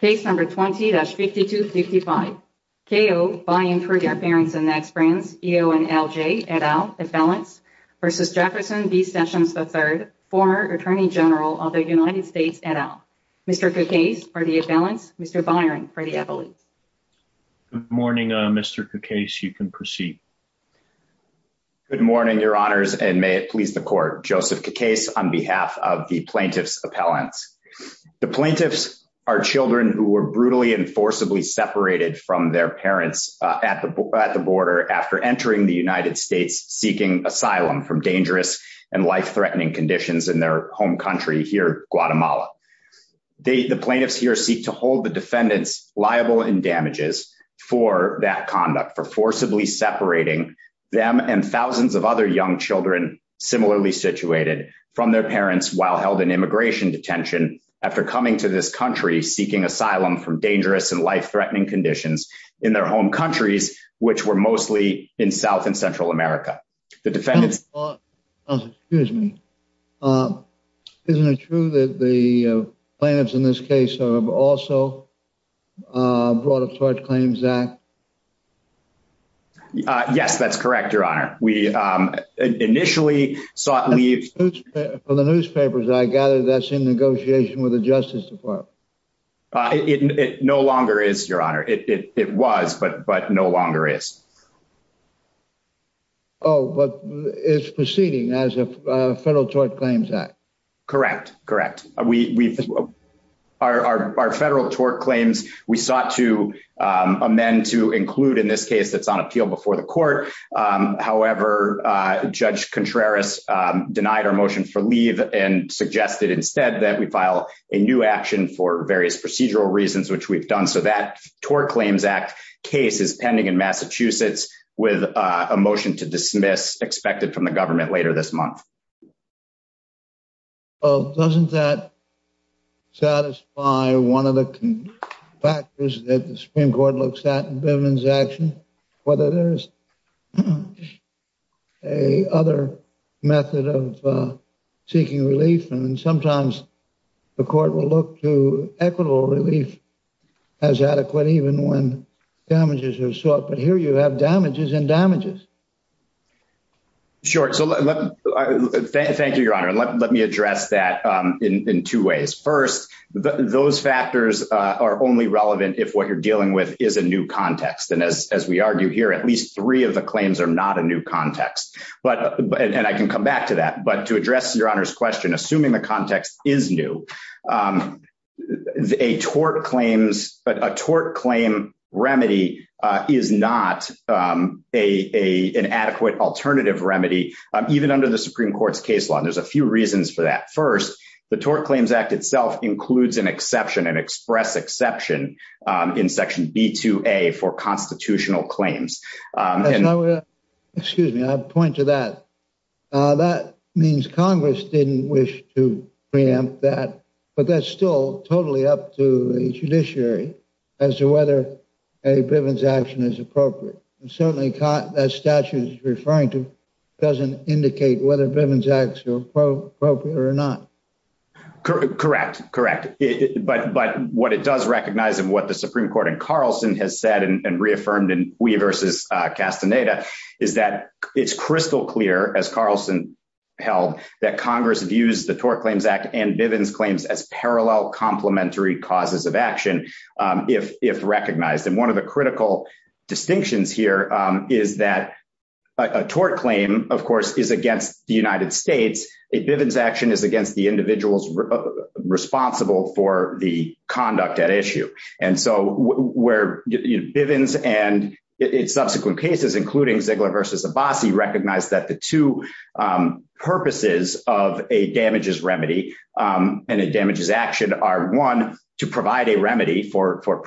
v. Jefferson B. Sessions III, former Attorney General of the United States, et al. K.O. by and for their parents and ex-friends, E.O. and L.J. et al., appellants, v. Jefferson B. Sessions III, former Attorney General of the United States, et al. Mr. Cacase for the appellants, Mr. Byron for the appellants. Good morning, Mr. Cacase. You can proceed. Good morning, Your Honors, and may it please the Court. Joseph Cacase on behalf of the plaintiff's appellants. The plaintiffs are children who were brutally and forcibly separated from their parents at the border after entering the United States seeking asylum from dangerous and life-threatening conditions in their home country here, Guatemala. The plaintiffs here seek to hold the defendants liable in damages for that conduct, for forcibly separating them and thousands of other young children similarly situated from their parents while held in immigration detention after coming to this country seeking asylum from dangerous and life-threatening conditions in their home countries, which were mostly in South and Central America. Excuse me. Isn't it true that the plaintiffs in this case have also brought up charge claims, Zach? Yes, that's correct, Your Honor. We initially sought leave. From the newspapers, I gather that's in negotiation with the Justice Department. It no longer is, Your Honor. It was, but no longer is. Oh, but it's proceeding as a federal tort claims act. Correct. Correct. We are our federal tort claims. We sought to amend to include in this case that's on appeal before the court. However, Judge Contreras denied our motion for leave and suggested instead that we file a new action for various procedural reasons, which we've done. So that tort claims act case is pending in Massachusetts with a motion to dismiss expected from the government later this month. Oh, doesn't that satisfy one of the factors that the Supreme Court looks at in Bivens action? Whether there's a other method of seeking relief. And sometimes the court will look to equitable relief as adequate, even when damages are sought. But here you have damages and damages. Sure. So thank you, Your Honor. Let me address that in two ways. First, those factors are only relevant if what you're dealing with is a new context. And as we argue here, at least three of the claims are not a new context. But and I can come back to that. But to address Your Honor's question, assuming the context is new, a tort claims, a tort claim remedy is not a inadequate alternative remedy, even under the Supreme Court's case law. And there's a few reasons for that. First, the tort claims act itself includes an exception and express exception in Section B to a for constitutional claims. Excuse me. I point to that. That means Congress didn't wish to preempt that. But that's still totally up to a judiciary as to whether a Bivens action is appropriate. And certainly that statute is referring to doesn't indicate whether Bivens acts are appropriate or not. Correct. Correct. But but what it does recognize and what the Supreme Court and Carlson has said and reaffirmed and we versus Castaneda is that it's crystal clear, as Carlson held that Congress views the tort claims act and Bivens claims as parallel complementary causes of action if if recognized. And one of the critical distinctions here is that a tort claim, of course, is against the United States. A Bivens action is against the individuals responsible for the conduct at issue. And so where Bivens and its subsequent cases, including Ziegler versus Abbasi, recognize that the two purposes of a damages remedy and it damages action are one to provide a does not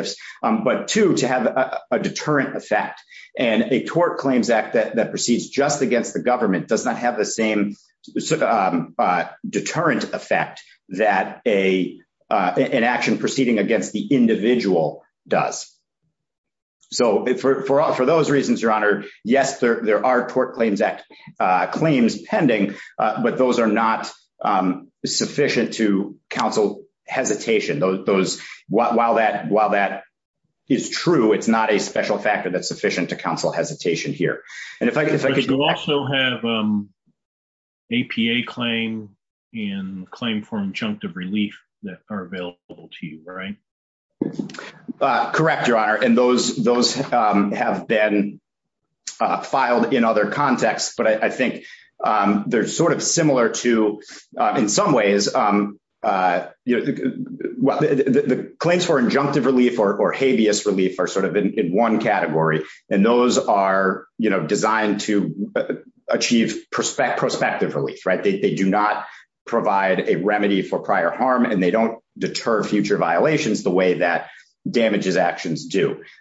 have the same deterrent effect that a an action proceeding against the individual does. So for all for those reasons, Your Honor. Yes, there are tort claims act claims pending, but those are not sufficient to counsel hesitation. Those while that while that is true, it's not a special factor that's sufficient to counsel hesitation here. And if I could also have APA claim in claim for injunctive relief that are available to you. Right.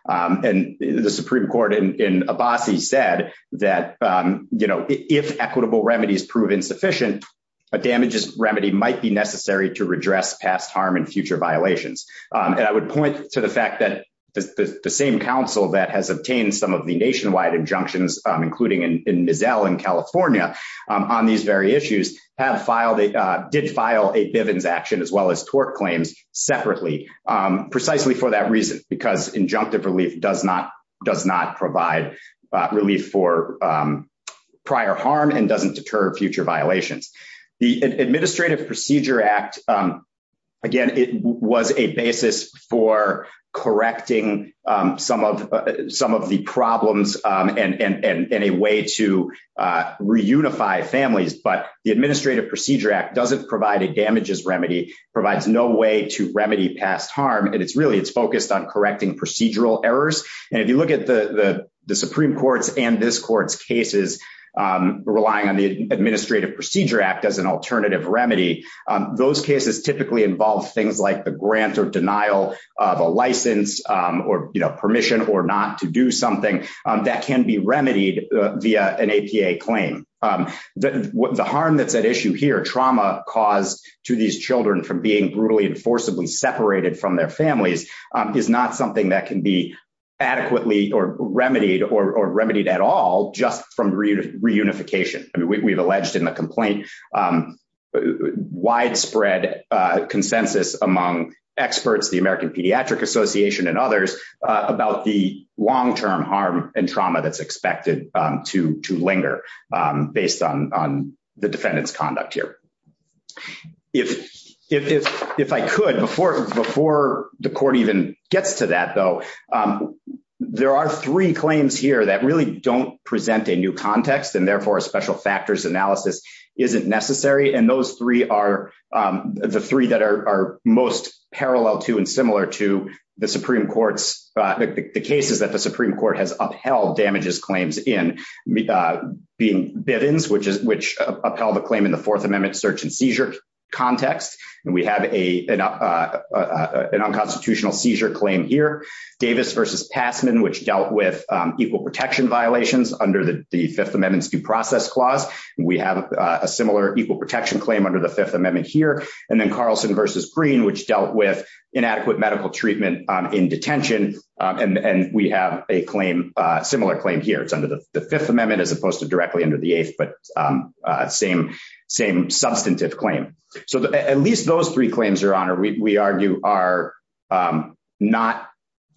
And the Supreme Court in in Abbasi said that, you know, if equitable remedies proven sufficient, a damages remedy might be necessary to redress past harm and future violations. And I would point to the fact that the same counsel that has obtained some of the nationwide injunctions against tort claims. Including in Mizzell in California on these very issues have filed a did file a Bivens action as well as tort claims separately, precisely for that reason, because injunctive relief does not does not provide relief for prior harm and doesn't deter future violations. The Administrative Procedure Act. Again, it was a basis for correcting some of some of the problems and a way to reunify families, but the Administrative Procedure Act doesn't provide a damages remedy provides no way to remedy past harm. And it's really it's focused on correcting procedural errors. And if you look at the Supreme Court's and this court's cases, relying on the Administrative Procedure Act as an alternative remedy. Those cases typically involve things like the grant or denial of a license or, you know, permission or not to do something that can be remedied via an APA claim. The harm that's at issue here trauma caused to these children from being brutally and forcibly separated from their families is not something that can be adequately or remedied or remedied at all just from reunification. I mean, we've alleged in the complaint widespread consensus among experts, the American Pediatric Association and others about the long term harm and trauma that's expected to linger based on the defendant's conduct here. If, if I could before before the court even gets to that, though, there are three claims here that really don't present a new context and therefore a special factors analysis isn't necessary. And those three are the three that are most parallel to and similar to the Supreme Court's the cases that the Supreme Court has upheld damages claims in being biddings, which is which upheld the claim in the Fourth Amendment search and seizure context. And we have a, an unconstitutional seizure claim here, Davis versus passman which dealt with equal protection violations under the Fifth Amendment due process clause, we have a similar equal protection claim under the Fifth Amendment here, and then Carlson your honor we argue are not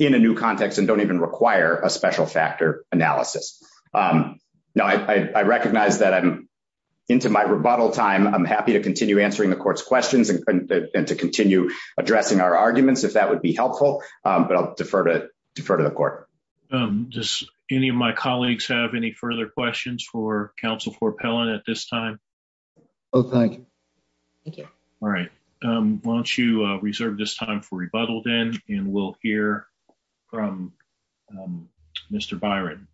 in a new context and don't even require a special factor analysis. Now I recognize that I'm into my rebuttal time, I'm happy to continue answering the court's questions and to continue addressing our arguments if that would be helpful, but I'll defer to defer to the court. Just any of my colleagues have any further questions for counsel for Pellon at this time. Okay. All right. Why don't you reserve this time for rebuttal then, and we'll hear from Mr Byron.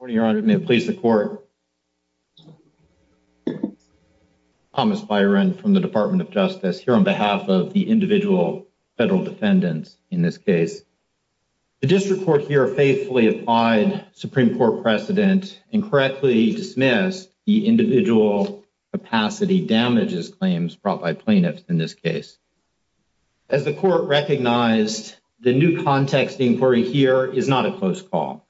Please the court. Thomas Byron from the Department of Justice here on behalf of the individual federal defendants. In this case, the district court here faithfully applied Supreme Court precedent and correctly dismiss the individual capacity damages claims brought by plaintiffs in this case. As the court recognized the new context inquiry here is not a close call.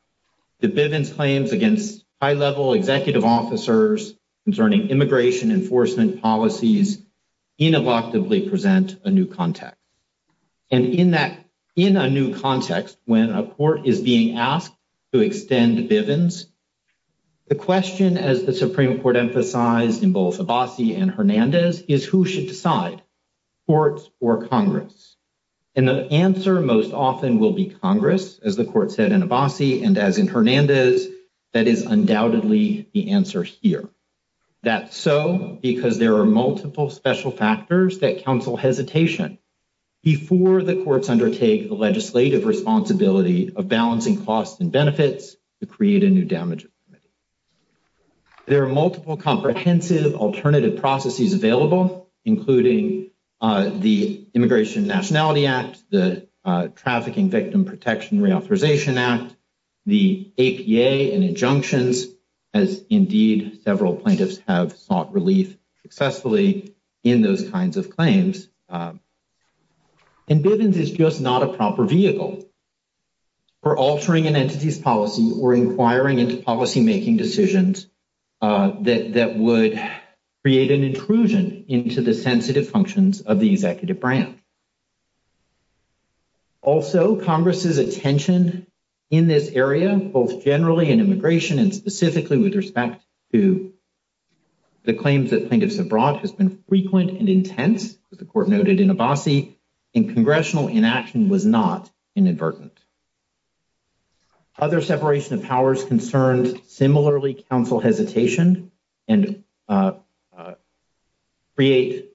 The Bivens claims against high level executive officers concerning immigration enforcement policies ineluctably present a new context. And in that in a new context when a court is being asked to extend Bivens. The question as the Supreme Court emphasized in both a bossy and Hernandez is who should decide courts or Congress, and the answer most often will be Congress as the court said in a bossy and as in Hernandez. That is undoubtedly the answer here. That's so because there are multiple special factors that counsel hesitation before the courts undertake the legislative responsibility of balancing costs and benefits to create a new damage. There are multiple comprehensive alternative processes available, including the Immigration Nationality Act, the Trafficking Victim Protection Reauthorization Act. The APA and injunctions as indeed several plaintiffs have sought relief successfully in those kinds of claims. And Bivens is just not a proper vehicle for altering an entity's policy or inquiring into policymaking decisions that would create an intrusion into the sensitive functions of the executive branch. Also, Congress's attention in this area, both generally in immigration and specifically with respect to the claims that plaintiffs abroad has been frequent and intense with the court noted in a bossy and congressional inaction was not inadvertent. Other separation of powers concerns similarly counsel hesitation and create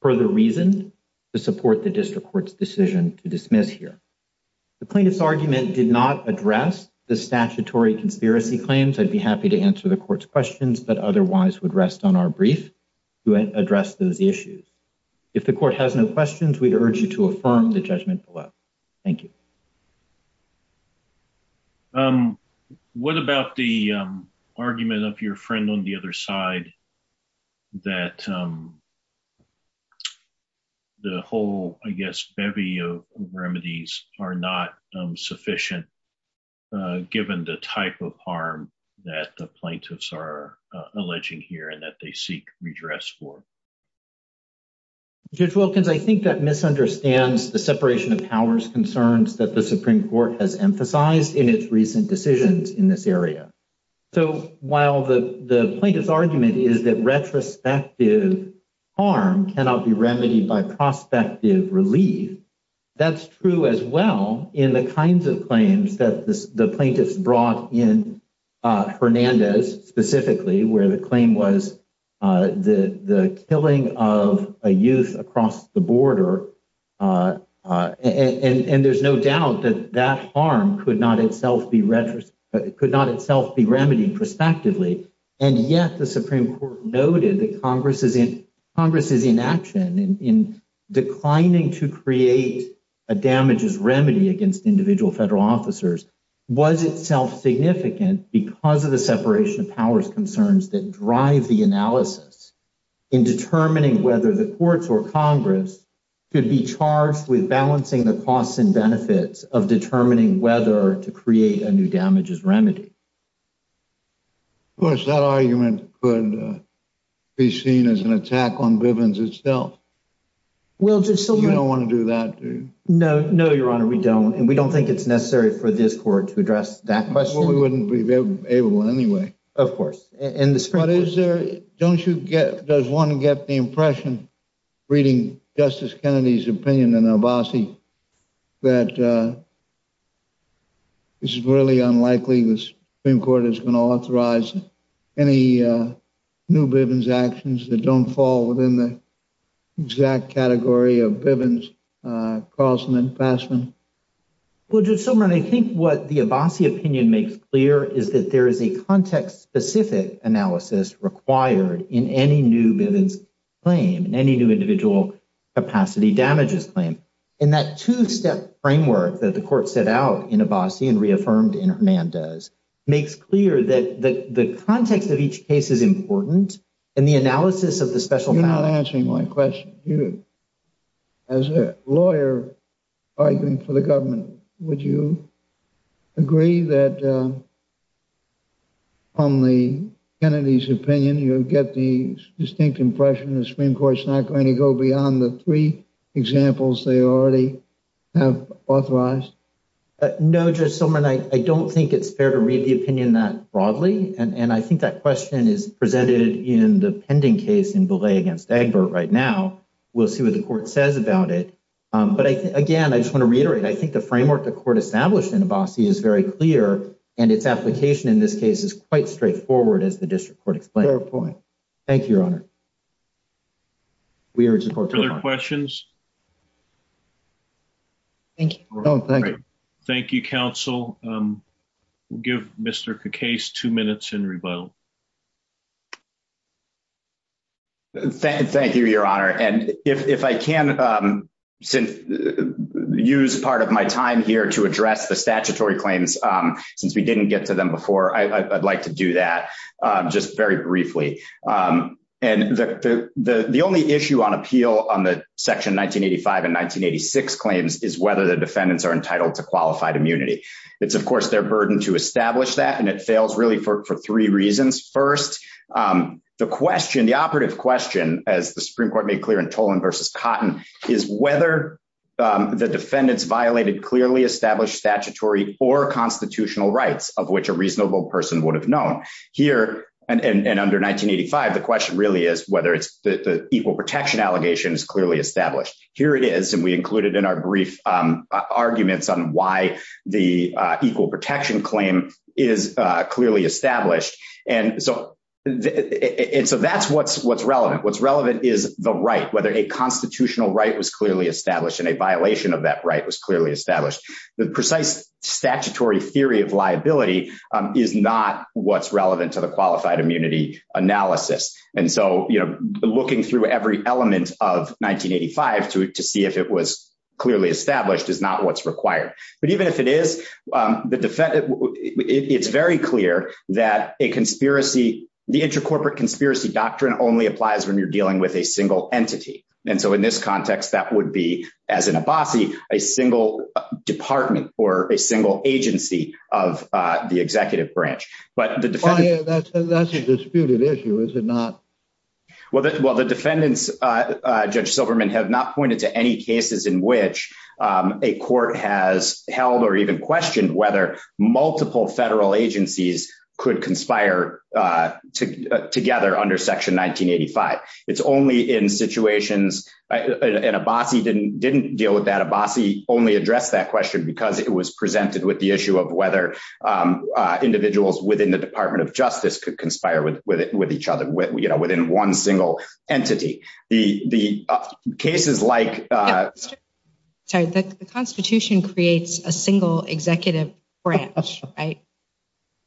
further reason to support the district court's decision to dismiss here. The plaintiff's argument did not address the statutory conspiracy claims. I'd be happy to answer the court's questions, but otherwise would rest on our brief to address those issues. If the court has no questions, we urge you to affirm the judgment below. Thank you. What about the argument of your friend on the other side that the whole, I guess, bevy of remedies are not sufficient, given the type of harm that the plaintiffs are alleging here and that they seek redress for? Judge Wilkins, I think that misunderstands the separation of powers concerns that the Supreme Court has emphasized in its recent decisions in this area. So, while the plaintiff's argument is that retrospective harm cannot be remedied by prospective relief, that's true as well in the kinds of claims that the plaintiffs brought in Hernandez specifically, where the claim was the killing of a youth across the border. And there's no doubt that that harm could not itself be remedied prospectively. And yet the Supreme Court noted that Congress is in action in declining to create a damages remedy against individual federal officers was itself significant because of the separation of powers concerns that drive the analysis in determining whether the courts or Congress could be charged with balancing the costs and benefits of determining whether to create a new damages remedy. Of course, that argument could be seen as an attack on Bivens itself. You don't want to do that, do you? No, no, Your Honor, we don't. And we don't think it's necessary for this court to address that question. Well, we wouldn't be able to anyway. Of course. But is there, don't you get, does one get the impression reading Justice Kennedy's opinion in Abbasi that it's really unlikely the Supreme Court is going to authorize any new Bivens actions that don't fall within the exact category of Bivens, Carlson and Fassman? Well, Judge Silberman, I think what the Abbasi opinion makes clear is that there is a context-specific analysis required in any new Bivens claim, in any new individual capacity damages claim. And that two-step framework that the court set out in Abbasi and reaffirmed in Hernandez makes clear that the context of each case is important. You're not answering my question. As a lawyer arguing for the government, would you agree that from Kennedy's opinion, you get the distinct impression the Supreme Court is not going to go beyond the three examples they already have authorized? No, Judge Silberman, I don't think it's fair to read the opinion that broadly. And I think that question is presented in the pending case in Belay against Egbert right now. We'll see what the court says about it. But again, I just want to reiterate, I think the framework the court established in Abbasi is very clear. And its application in this case is quite straightforward, as the district court explained. Fair point. Thank you, Your Honor. Further questions? Thank you. Thank you, counsel. We'll give Mr. Cacase two minutes in rebuttal. Thank you, Your Honor. And if I can use part of my time here to address the statutory claims, since we didn't get to them before, I'd like to do that just very briefly. And the only issue on appeal on the Section 1985 and 1986 claims is whether the defendants are entitled to qualified immunity. It's, of course, their burden to establish that. And it fails really for three reasons. First, the question, the operative question, as the Supreme Court made clear in Tolan v. Cotton, is whether the defendants violated clearly established statutory or constitutional rights of which a reasonable person would have known. Here, and under 1985, the question really is whether the equal protection allegation is clearly established. Here it is, and we included in our brief arguments on why the equal protection claim is clearly established. And so that's what's relevant. What's relevant is the right, whether a constitutional right was clearly established and a violation of that right was clearly established. The precise statutory theory of liability is not what's relevant to the qualified immunity analysis. And so, you know, looking through every element of 1985 to see if it was clearly established is not what's required. But even if it is, it's very clear that a conspiracy, the intercorporate conspiracy doctrine only applies when you're dealing with a single entity. And so in this context, that would be, as an Abassi, a single department or a single agency of the executive branch. But that's a disputed issue, is it not? Well, the defendants, Judge Silverman, have not pointed to any cases in which a court has held or even questioned whether multiple federal agencies could conspire together under Section 1985. It's only in situations and Abassi didn't deal with that. Abassi only addressed that question because it was presented with the issue of whether individuals within the Department of Justice could conspire with each other within one single entity. The cases like the Constitution creates a single executive branch, right?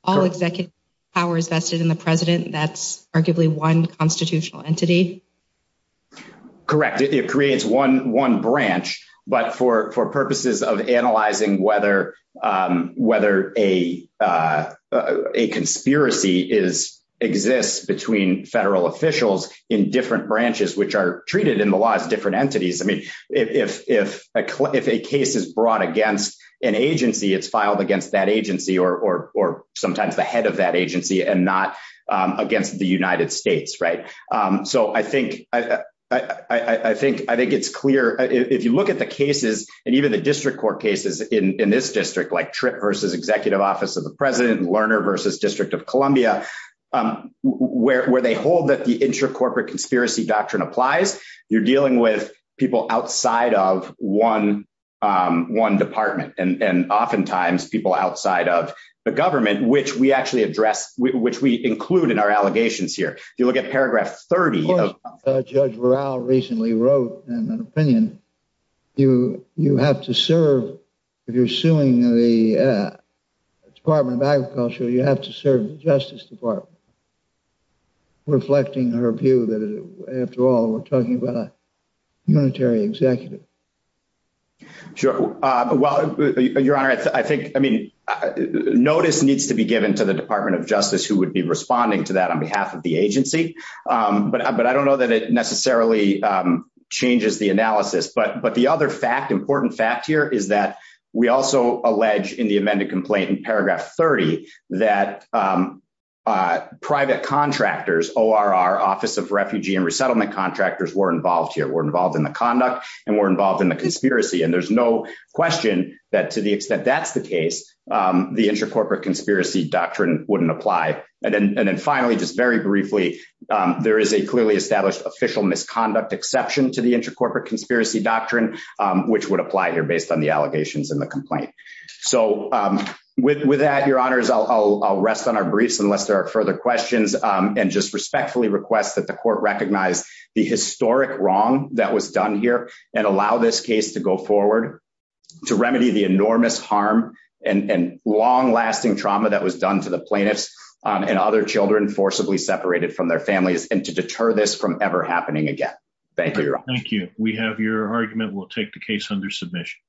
All executive powers vested in the president, that's arguably one constitutional entity. Correct. It creates one branch, but for purposes of analyzing whether a conspiracy exists between federal officials in different branches, which are treated in the law as different entities. I mean, if a case is brought against an agency, it's filed against that agency or sometimes the head of that agency and not against the United States. So I think it's clear if you look at the cases and even the district court cases in this district, like Tripp versus Executive Office of the President, Lerner versus District of Columbia, where they hold that the intracorporate conspiracy doctrine applies, you're dealing with people outside of one department and oftentimes people outside of the government, which we actually address, which we include in our allegations here. If you look at paragraph 30 of- Of course, Judge Vural recently wrote an opinion. You have to serve, if you're suing the Department of Agriculture, you have to serve the Justice Department. Reflecting her view that after all, we're talking about a unitary executive. Sure. Well, Your Honor, I think, I mean, notice needs to be given to the Department of Justice who would be responding to that on behalf of the agency. But I don't know that it necessarily changes the analysis. But the other fact, important fact here, is that we also allege in the amended complaint in paragraph 30 that private contractors, ORR, Office of Refugee and Resettlement Contractors, were involved here. They were involved in the conduct and were involved in the conspiracy. And there's no question that to the extent that's the case, the intracorporate conspiracy doctrine wouldn't apply. And then finally, just very briefly, there is a clearly established official misconduct exception to the intracorporate conspiracy doctrine, which would apply here based on the allegations in the complaint. So with that, Your Honors, I'll rest on our briefs unless there are further questions. And just respectfully request that the court recognize the historic wrong that was done here and allow this case to go forward to remedy the enormous harm and long lasting trauma that was done to the plaintiffs and other children forcibly separated from their families and to deter this from ever happening again. Thank you. Thank you. We have your argument. I will take the case under submission.